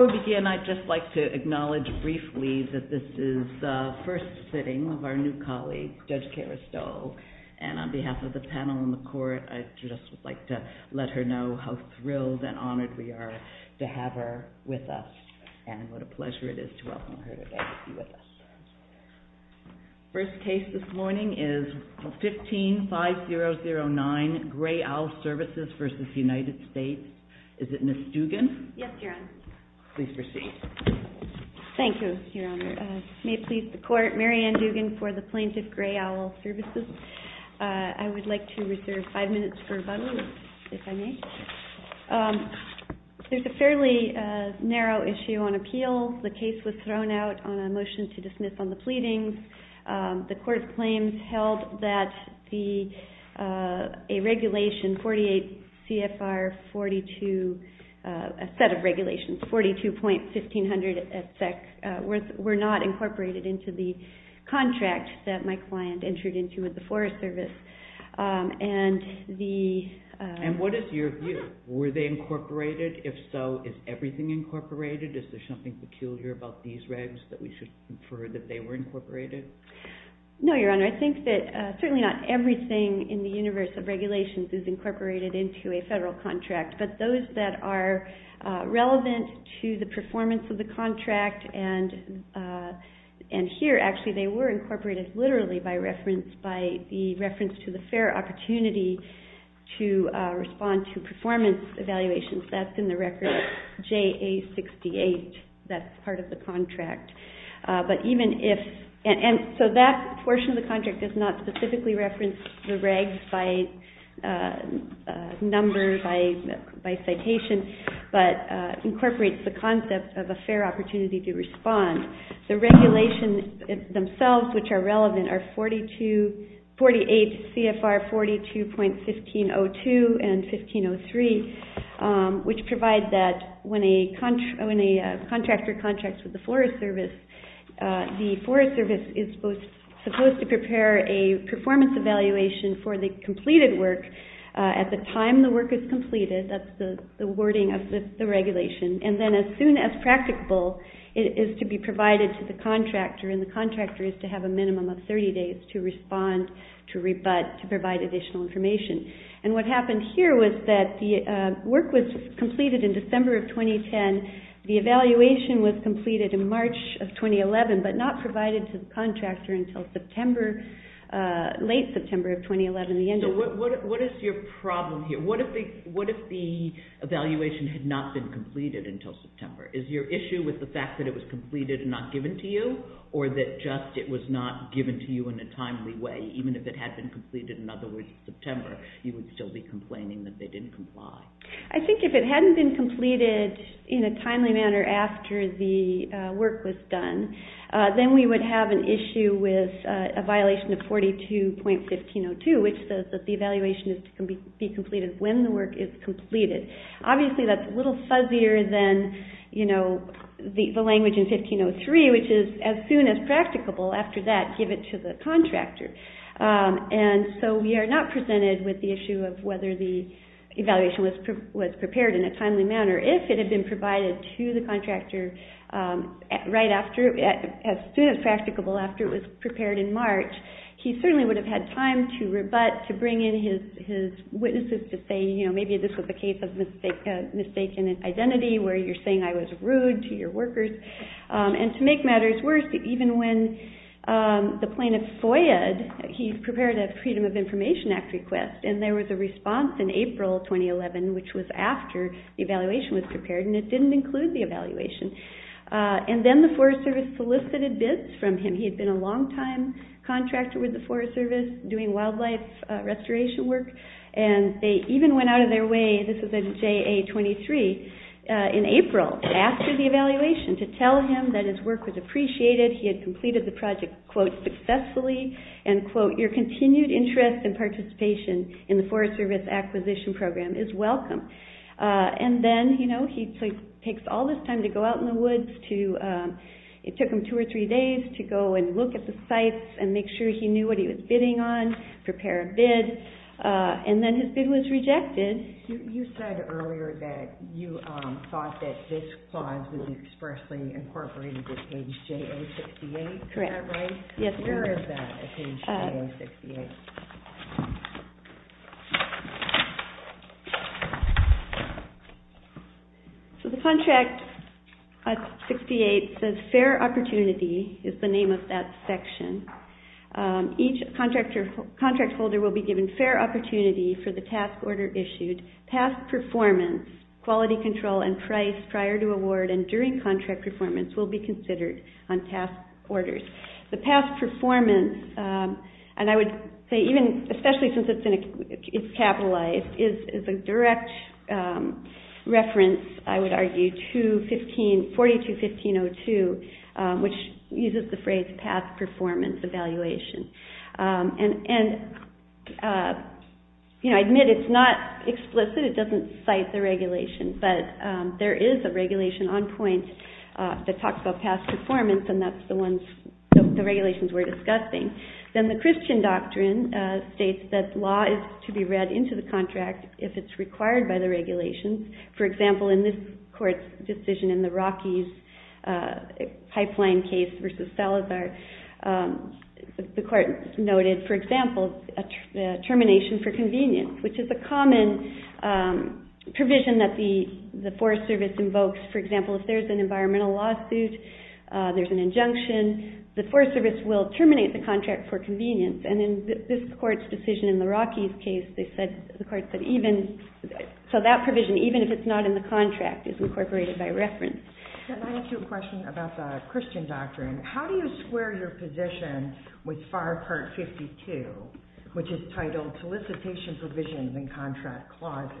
I'd just like to acknowledge briefly that this is the first sitting of our new colleague, Judge Kara Stowell, and on behalf of the panel and the Court, I just would like to let her know how thrilled and honored we are to have her with us and what a pleasure it is to welcome her today to be with us. First case this morning is 15-5009, Gray Owl Services v. United States. Is it Ms. Dugan? Yes, Your Honor. Please proceed. Thank you, Your Honor. May it please the Court, Mary Ann Dugan for the plaintiff, Gray Owl Services. I would like to reserve five minutes for rebuttal, if I may. There's a fairly narrow issue on appeal. The case was thrown out on a motion to dismiss on the pleadings. The Court's claims held that a regulation, 48 CFR 42, a set of regulations, 42.1500 at SEC, were not incorporated into the contract that my client entered into with the Forest Service. And the... And what is your view? Were they incorporated? If so, is everything incorporated? Is there something peculiar about these regs that we should infer that they were incorporated? No, Your Honor. I believe the universe of regulations is incorporated into a federal contract. But those that are relevant to the performance of the contract and here, actually, they were incorporated literally by reference, by the reference to the fair opportunity to respond to performance evaluations, that's in the record, JA 68. That's part of the contract. But even if... And so that portion of the contract does not specifically reference the regs by numbers, by citation, but incorporates the concept of a fair opportunity to respond. The regulations themselves, which are relevant, are 48 CFR 42.1502 and 1503, which provide that when the contractor contracts with the Forest Service, the Forest Service is supposed to prepare a performance evaluation for the completed work at the time the work is completed. That's the wording of the regulation. And then as soon as practicable, it is to be provided to the contractor and the contractor is to have a minimum of 30 days to respond, to rebut, to provide additional information. And what happened here was that the work was completed in December of 2010. The evaluation was completed in March of 2011, but not provided to the contractor until September, late September of 2011. So what is your problem here? What if the evaluation had not been completed until September? Is your issue with the fact that it was completed and not given to you or that just it was not given to you in a timely way, even if it had been completed, in other words, in September, you would still be complaining that they didn't comply? I think if it hadn't been completed in a timely manner after the work was done, then we would have an issue with a violation of 42.1502, which says that the evaluation is to be completed when the work is completed. Obviously, that's a little fuzzier than, you know, the language in 1503, which is as soon as practicable after that, give it to the contractor. And so we are not presented with the issue of whether the evaluation was prepared in a timely manner. If it had been provided to the contractor right after, as soon as practicable after it was prepared in March, he certainly would have had time to rebut, to bring in his witnesses to say, you know, maybe this was a case of mistaken identity, where you're saying I was rude to your workers. And to make matters worse, even when the plaintiff FOIAed, he prepared a Freedom of Information Act request, and there was a response in April 2011, which was after the evaluation was prepared, and it didn't include the evaluation. And then the Forest Service solicited bids from him. He had been a long-time contractor with the Forest Service, doing wildlife restoration work, and they even went out of their way, this was in JA23, in April, after the evaluation, to tell him that his work was appreciated, he had completed the project, quote, successfully, and quote, your continued interest and participation in the Forest Service Acquisition Program is welcome. And then, you know, he takes all this time to go out in the woods to, it took him two or three days to go and look at the sites and make sure he knew what he was bidding on, prepare a bid, and then his bid was rejected. You said earlier that you thought that this clause was expressly incorporated with page JA68, is that right? Yes. Where is that, at page JA68? So the contract, at 68, says, Fair Opportunity, is the name of that section. Each contractor, contract holder will be given fair opportunity for the task order issued, past performance, quality control, and price prior to award and during contract performance will be considered on task orders. The past performance, and I would say even, especially since it's capitalized, is a direct reference, I would argue, to 42-1502, which uses the phrase past performance evaluation. And, you know, I admit it's not explicit, it doesn't cite the regulation, but there is a regulation on point that talks about past performance and that's the ones, the regulations we're discussing. Then the Christian doctrine states that law is to be read into the contract if it's required by the regulations. For example, in this court's decision in the Rockies case, the court noted, for example, termination for convenience, which is a common provision that the Forest Service invokes. For example, if there's an environmental lawsuit, there's an injunction, the Forest Service will terminate the contract for convenience. And in this court's decision in the Rockies case, they said, the court said even, so that provision, even if it's not in the contract, is incorporated by reference. Can I ask you a question about the Christian doctrine? How do you square your position with FAR Part 52, which is titled Solicitation Provisions and Contract Clauses,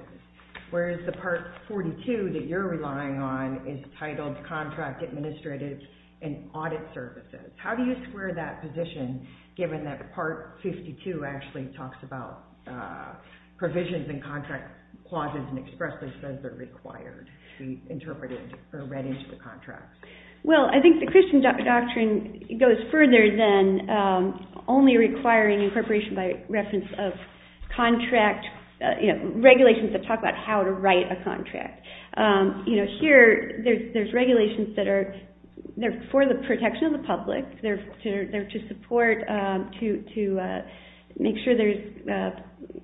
whereas the Part 42 that you're relying on is titled Contract Administrative and Audit Services? How do you square that position, given that Part 52 actually talks about provisions and contract clauses and expressly says they're required to be interpreted or read into the contract? Well, I think the Christian doctrine goes further than only requiring incorporation by reference of contract regulations that talk about how to write a contract. Here, there's regulations that are for the protection of the public. They're to support, to make sure there's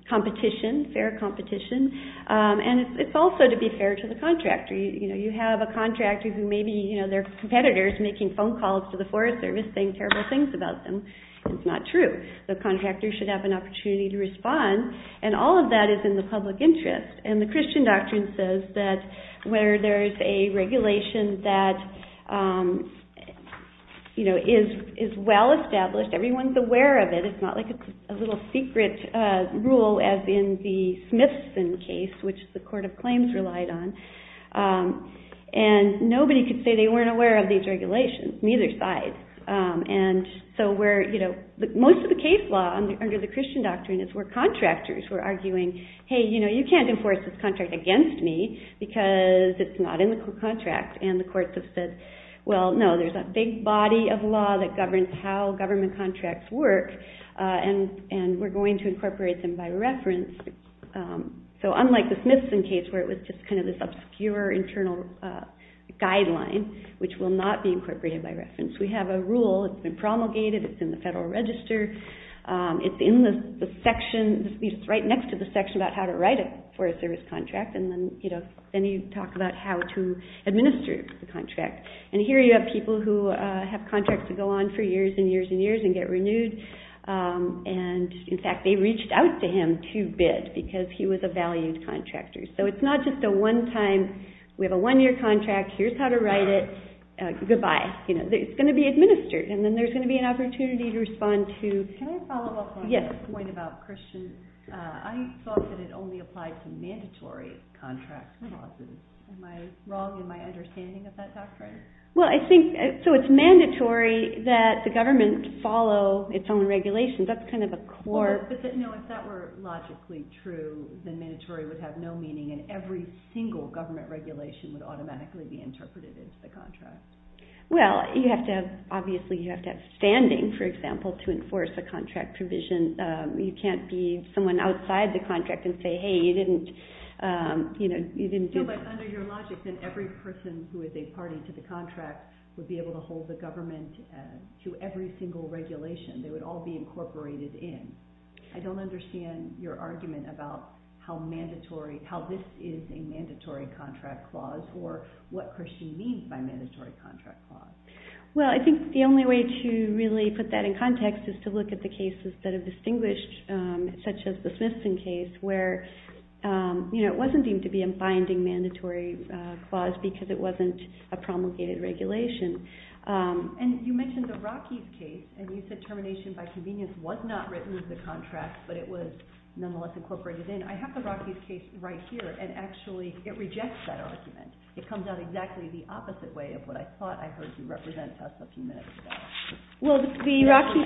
competition, fair competition. And it's also to be fair to the contractor. You know, you have a contractor who maybe, you know, their competitor is making phone calls to the Forest Service saying terrible things about them. It's not true. The contractor should have an opportunity to respond. And all of that is in the public interest. And the Christian doctrine says that where there's a regulation that, you know, is well established, everyone's aware of it. It's not like it's a little secret rule as in the Smithson case, which the Court of Claims relied on. And nobody could say they weren't aware of these regulations, neither side. And so where, you know, most of the case law under the Christian doctrine is where contractors were arguing, hey, you know, you can't enforce this contract against me because it's not in the contract. And the courts have said, well, no, there's a big difference in how contracts work. And we're going to incorporate them by reference. So unlike the Smithson case where it was just kind of this obscure internal guideline, which will not be incorporated by reference. We have a rule. It's been promulgated. It's in the Federal Register. It's in the section. It's right next to the section about how to write a Forest Service contract. And then, you know, then you talk about how to administer the contract. And here you have people who have contracts that go on for years and years and get renewed. And in fact, they reached out to him to bid because he was a valued contractor. So it's not just a one-time, we have a one-year contract. Here's how to write it. Goodbye. You know, it's going to be administered. And then there's going to be an opportunity to respond to. Can I follow up on that point about Christians? I thought that it only applied to mandatory contract clauses. Am I wrong in my understanding of that doctrine? Well, I think, so it's mandatory that the government follow its own regulations. That's kind of a core... No, if that were logically true, then mandatory would have no meaning and every single government regulation would automatically be interpreted as the contract. Well, you have to have, obviously, you have to have standing, for example, to enforce a contract provision. You can't be someone outside the contract and say, hey, you didn't, you know, you didn't do... But under your logic, then every person who is a party to the contract would be able to hold the government to every single regulation. They would all be incorporated in. I don't understand your argument about how mandatory, how this is a mandatory contract clause or what Christian means by mandatory contract clause. Well, I think the only way to really put that in context is to look at the cases that are because it wasn't a promulgated regulation. And you mentioned the Rockies case, and you said termination by convenience was not written into the contract, but it was nonetheless incorporated in. I have the Rockies case right here, and actually it rejects that argument. It comes out exactly the opposite way of what I thought I heard you represent to us a few minutes ago. Well, the Rockies...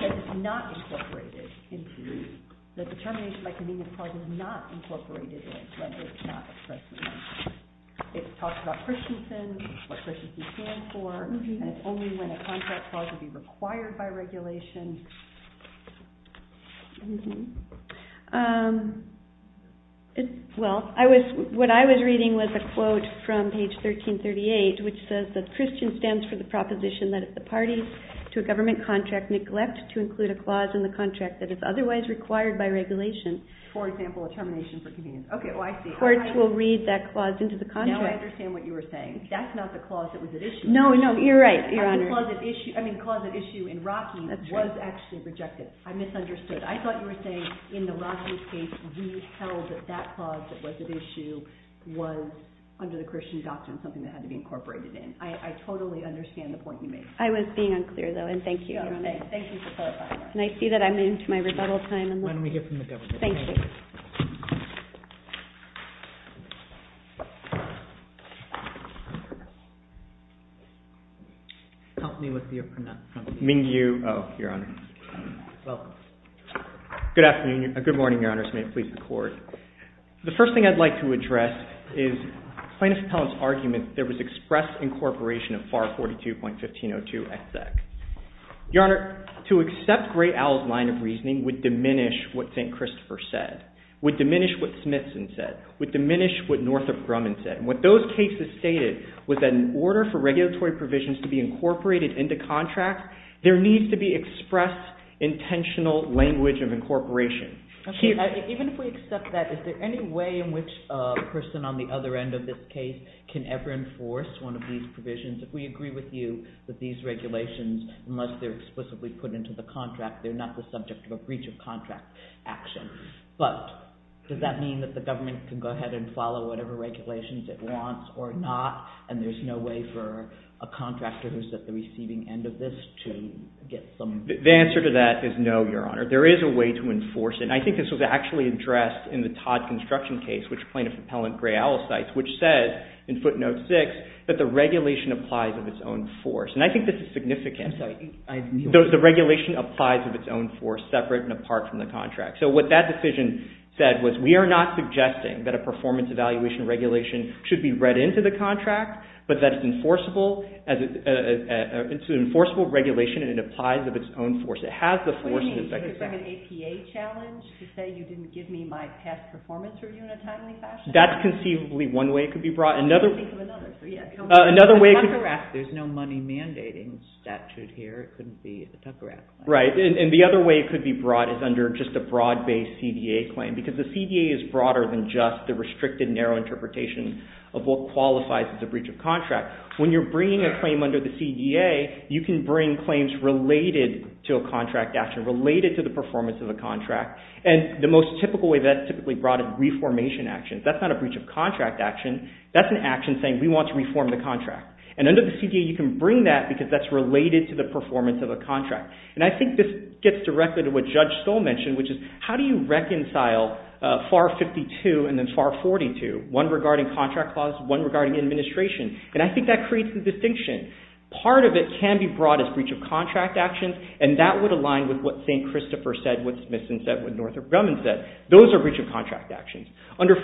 It talks about Christensen, what Christensen stands for, and it's only when a contract clause would be required by regulation. Well, what I was reading was a quote from page 1338, which says that Christian stands for the proposition that if the parties to a government contract neglect to include a clause in the contract that is otherwise required by regulation... For example, a termination for convenience. Okay, well, I see. The courts will read that clause into the contract. Now I understand what you were saying. That's not the clause that was at issue. No, no, you're right, Your Honor. The clause at issue in Rockies was actually rejected. I misunderstood. I thought you were saying in the Rockies case we held that that clause that was at issue was under the Christian doctrine something that had to be incorporated in. I totally understand the point you made. I was being unclear, though, and thank you. Thank you for clarifying that. And I see that I'm into my rebuttal time. Why don't we hear from the government? Thank you. Help me with your pronoun. Mingyu Oh, Your Honor. Welcome. Good afternoon. Good morning, Your Honor. This may please the Court. The first thing I'd like to address is plaintiff's appellant's argument that there was express incorporation of FAR 42.1502XX. Your Honor, to accept Gray-Owl's line of reasoning would diminish what St. Christopher said, would diminish what Smithson said, would diminish what Northrop Grumman said. And what those cases stated was that in order for regulatory provisions to be incorporated into contracts, there needs to be expressed intentional language of incorporation. Even if we accept that, is there any way in which a person on the other end of this case can ever enforce one of these provisions? If we agree with you that these regulations, unless they're explicitly put into the contract, they're not the subject of a breach of contract action. But does that mean that the government can go ahead and follow whatever regulations it wants or not, and there's no way for a contractor who's at the receiving end of this to get some... The answer to that is no, Your Honor. There is a way to enforce it. And I think this was actually addressed in the Todd construction case, which plaintiff's appellant Gray-Owl cites, which says in footnote six that the regulation applies of its own force. And I think this is significant. I'm sorry. The regulation applies of its own force, separate and apart from the contract. So what that decision said was we are not suggesting that a performance evaluation regulation should be read into the contract, but that it's an enforceable regulation and it applies of its own force. It has the force... That's conceivably one way it could be brought. Another way... There's no money mandating statute here. It couldn't be a Tucker Act claim. Right. And the other way it could be brought is under just a broad-based CDA claim, because the CDA is broader than just the restricted narrow interpretation of what qualifies as a breach of contract. When you're bringing a claim under the CDA, you can bring claims related to a contract action, related to the performance of a contract. And the most typical way that's typically brought is reformation actions. That's not a breach of contract action. That's an action saying we want to reform the contract. And under the CDA, you can bring that because that's related to the performance of a contract. And I think this gets directly to what Judge Stoll mentioned, which is how do you reconcile FAR 52 and then FAR 42, one regarding contract clause, one regarding administration. And I think that creates the distinction. Part of it can be brought as breach of contract actions, and that would align with what St. Christopher said, what Smithson said, what Northrop Grumman said. Those are breach of regulations. That's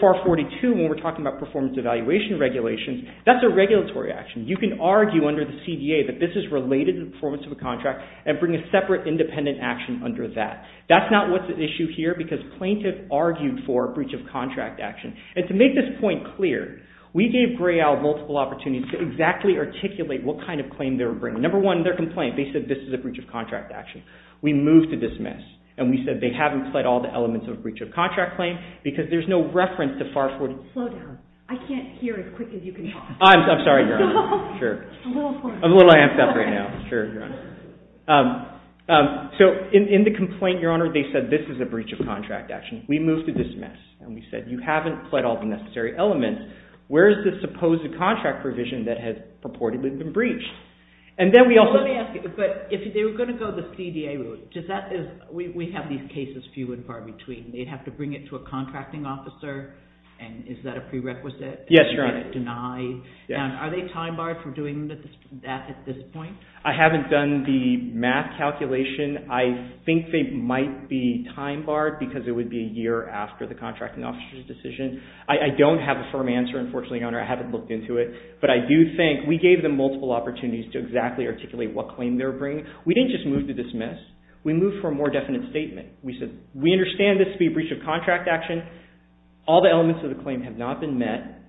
a regulatory action. You can argue under the CDA that this is related to the performance of a contract and bring a separate independent action under that. That's not what's at issue here, because plaintiffs argued for a breach of contract action. And to make this point clear, we gave GRAIL multiple opportunities to exactly articulate what kind of claim they were bringing. Number one, their complaint. They said this is a breach of contract action. We moved to dismiss, and we said they haven't fled all the elements of a breach of contract claim, because there's no reference to FAR 42. Slow down. I can't hear as quick as you can talk. I'm sorry, Your Honor. Sure. I'm a little amped up right now. Sure, Your Honor. So in the complaint, Your Honor, they said this is a breach of contract action. We moved to dismiss, and we said you haven't fled all the necessary elements. Where is the supposed contract provision that has purportedly been breached? And then we also Let me ask you, but if they were going to go the CDA route, we have these cases few and far between. They'd have to bring it to a contracting officer, and is that a prerequisite? Yes, Your Honor. Are they time-barred from doing that at this point? I haven't done the math calculation. I think they might be time-barred, because it would be a year after the contracting officer's decision. I don't have a firm answer, unfortunately, Your Honor. I haven't looked into it. But I do think we gave them multiple opportunities to exactly articulate what claim they were bringing. We didn't just move to dismiss. We moved for a more definite statement. We said we understand this to be a breach of contract action. All the elements of the claim have not been met.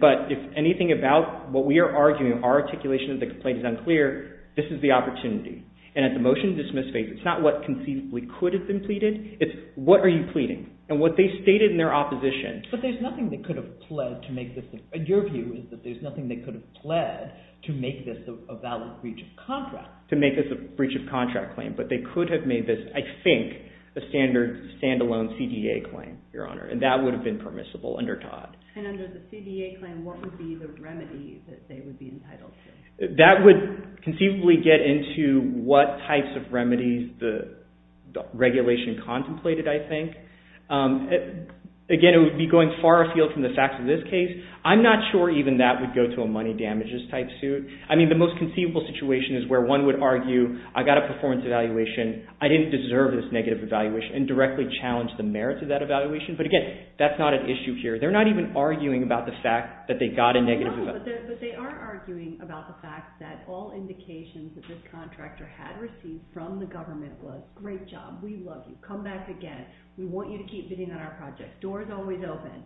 But if anything about what we are arguing, our articulation of the complaint is unclear, this is the opportunity. And at the motion to dismiss phase, it's not what conceivably could have been pleaded. It's what are you pleading? And what they stated in their opposition But there's nothing they could have pled to make this a valid breach of contract. to make this a breach of contract claim. But they could have made this, I think, a standard stand-alone CDA claim, Your Honor. And that would have been permissible under Todd. And under the CDA claim, what would be the remedies that they would be entitled to? That would conceivably get into what types of remedies the regulation contemplated, I think. Again, it would be going far afield from the facts of this case. I'm not sure even that would go to a money damages type suit. I mean, the most conceivable situation is where one would argue, I got a performance evaluation, I didn't deserve this negative evaluation, and directly challenge the merits of that evaluation. But again, that's not an issue here. They're not even arguing about the fact that they got a negative evaluation. No, but they are arguing about the fact that all indications that this contractor had received from the government was, great job, we love you, come back again, we want you to keep bidding on our project, door's always open.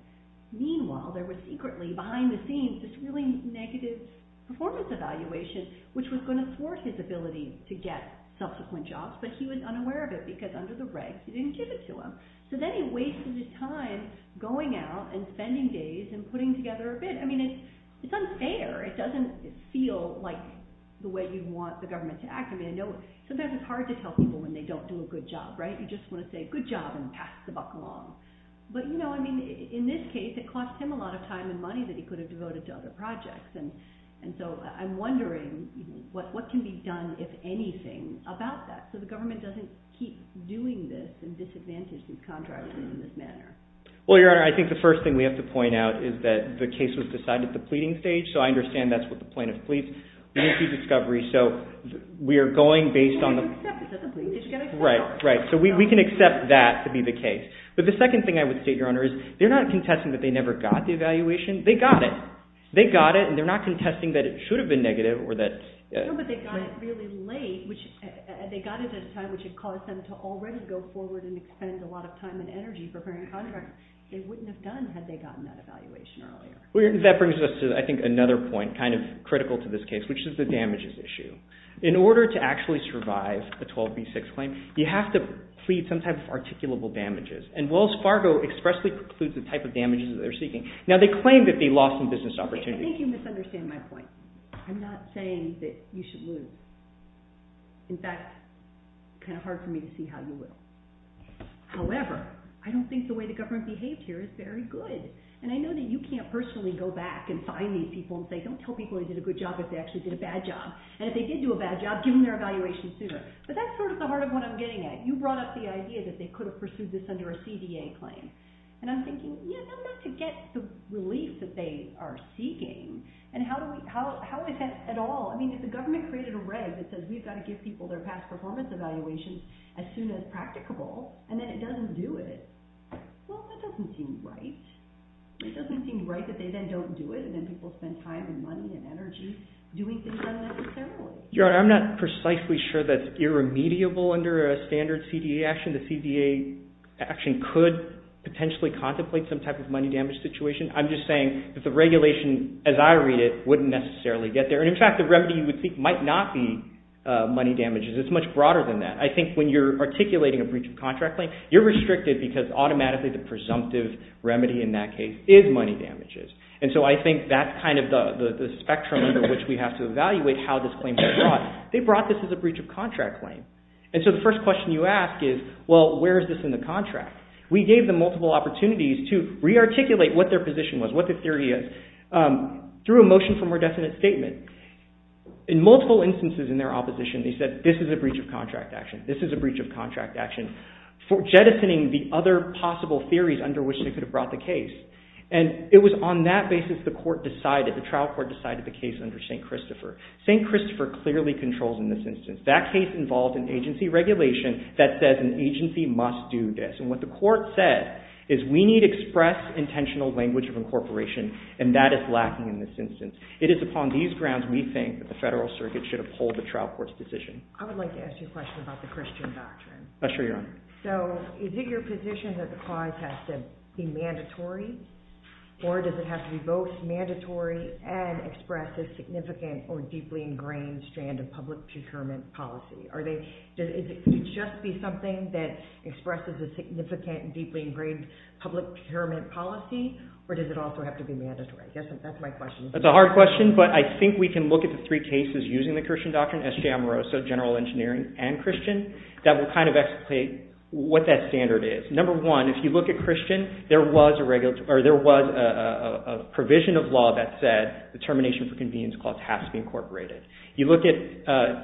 Meanwhile, there was secretly, behind the scenes, this really negative performance evaluation, which was going to thwart his ability to get subsequent jobs, but he was unaware of it, because under the regs, they didn't give it to him. So then he wasted his time going out and spending days and putting together a bid. I mean, it's unfair. It doesn't feel like the way you'd want the government to act. I mean, I know sometimes it's hard to tell people when they don't do a good job, right? You just want to say, good job, and pass the buck along. But, you know, I mean, in this case, it cost him a lot of time and money that he could have devoted to other projects, and so I'm wondering what can be done, if anything, about that, so the government doesn't keep doing this and disadvantage these contractors in this manner. Well, Your Honor, I think the first thing we have to point out is that the case was decided at the pleading stage, so I understand that's what the plaintiff pleads. We need to do discovery, so we are going based on the... Well, he can accept it, doesn't he? He's going to accept it. Right, right. So we can accept that to be the case. But the second thing I would state, Your Honor, is they're not contesting that they never got the evaluation. They got it. They got it, and they're not contesting that it should have been negative or that... No, but they got it really late. They got it at a time which had caused them to already go forward and expend a lot of time and energy preparing a contract they wouldn't have done had they gotten that evaluation earlier. That brings us to, I think, another point, kind of critical to this case, which is the You have to plead some type of articulable damages, and Wells Fargo expressly precludes the type of damages that they're seeking. Now, they claim that they lost some business opportunities. I think you misunderstand my point. I'm not saying that you should lose. In fact, it's kind of hard for me to see how you will. However, I don't think the way the government behaved here is very good, and I know that you can't personally go back and find these people and say, don't tell people they did a good job if they actually did a bad job, and if they did do a bad job, give them their evaluation sooner. But that's sort of the heart of what I'm getting at. You brought up the idea that they could have pursued this under a CDA claim, and I'm thinking, you know, not to get the relief that they are seeking, and how is that at all? I mean, if the government created a reg that says we've got to give people their past performance evaluations as soon as practicable, and then it doesn't do it, well, that doesn't seem right. It doesn't seem right that they then don't do it, and then people spend time and money and energy doing things unnecessarily. I'm not precisely sure that's irremediable under a standard CDA action. The CDA action could potentially contemplate some type of money damage situation. I'm just saying that the regulation as I read it wouldn't necessarily get there, and in fact, the remedy you would think might not be money damages. It's much broader than that. I think when you're articulating a breach of contract claim, you're restricted because automatically the presumptive remedy in that case is money damages, and so I think that's kind of the spectrum under which we have to evaluate how this claim was brought. They brought this as a breach of contract claim, and so the first question you ask is, well, where is this in the contract? We gave them multiple opportunities to re-articulate what their position was, what their theory is, through a motion for more definite statement. In multiple instances in their opposition, they said this is a breach of contract action, this is a breach of contract action, for jettisoning the other possible theories under which they could have brought the case, and it was on that basis the trial court decided the case under St. Christopher. St. Christopher clearly controls in this instance. That case involved an agency regulation that says an agency must do this, and what the court said is we need express intentional language of incorporation, and that is lacking in this instance. It is upon these grounds we think that the Federal Circuit should uphold the trial court's decision. I would like to ask you a question about the Christian doctrine. Sure, Your Honor. So, is it your position that the clause has to be mandatory, or does it have to be both mandatory and express a significant or deeply ingrained strand of public procurement policy? Could it just be something that expresses a significant, deeply ingrained public procurement policy, or does it also have to be mandatory? That's my question. That's a hard question, but I think we can look at the three cases using the Christian doctrine that will kind of explicate what that standard is. Number one, if you look at Christian, there was a provision of law that said the termination for convenience clause has to be incorporated. You look at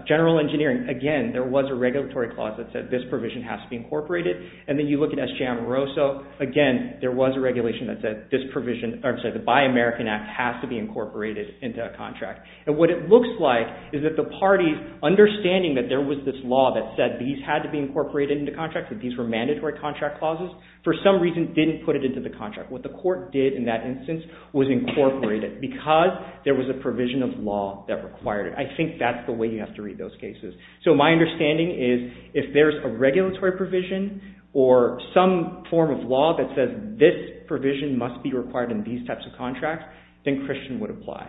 General Engineering, again, there was a regulatory clause that said this provision has to be incorporated, and then you look at SJM Rosso, again, there was a regulation that said this provision, or I'm sorry, the Buy American Act has to be incorporated into a contract, and what it looks like is that the parties understanding that there was this law that said these had to be incorporated into contracts, that these were mandatory contract clauses, for some reason didn't put it into the contract. What the court did in that instance was incorporate it because there was a provision of law that required it. I think that's the way you have to read those cases. So, my understanding is if there's a regulatory provision or some form of law that says this provision must be required in these types of contracts, then Christian would apply.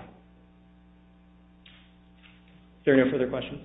Is there no further questions?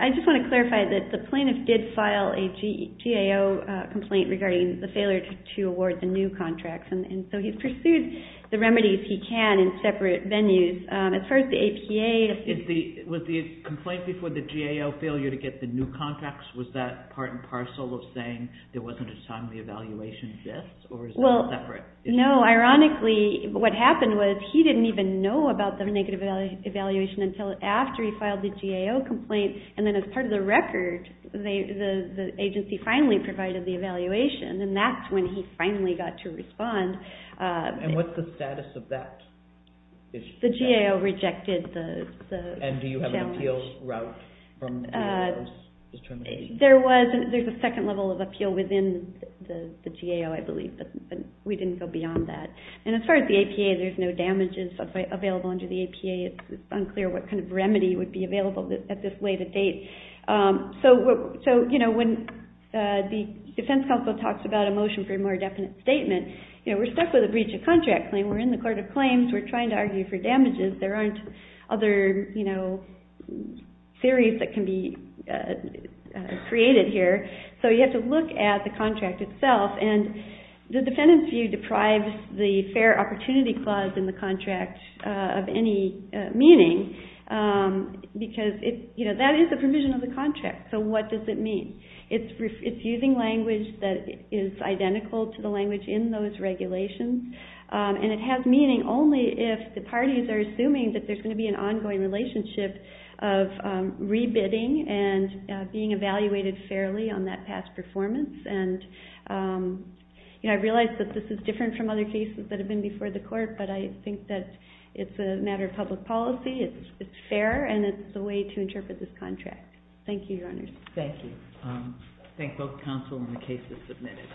I just want to clarify that the plaintiff did file a GAO complaint regarding the failure to award the new contracts, and so he pursued the remedies he can in separate venues. As far as the APA... Was the complaint before the GAO failure to get the new contracts, was that part and parcel of saying there wasn't a timely evaluation of this, or is that separate? Well, no. Ironically, what happened was he didn't even know about the negative evaluation until after he filed the GAO complaint, and then as part of the record, the agency finally provided the evaluation, and that's when he finally got to respond. And what's the status of that? The GAO rejected the challenge. And do you have an appeal route from the GAO's determination? There's a second level of appeal within the GAO, I believe, but we didn't go beyond that. And as far as the APA, there's no damages available under the APA. It's unclear what kind of remedy would be available at this late a date. So, when the defense counsel talks about a motion for a more definite statement, we're stuck with a breach of contract claim. We're in the court of claims. We're trying to argue for damages. There aren't other theories that can be created here. So, you have to look at the contract itself, and the defendant's view deprives the fair opportunity clause in the contract of any meaning, because that is the provision of the contract. So, what does it mean? It's using language that is the parties are assuming that there's going to be an ongoing relationship of rebidding and being evaluated fairly on that past performance. And I realize that this is different from other cases that have been before the court, but I think that it's a matter of public policy. It's fair, and it's the way to interpret this contract. Thank you, Your Honors. Thank you. I thank both counsel and the cases submitted.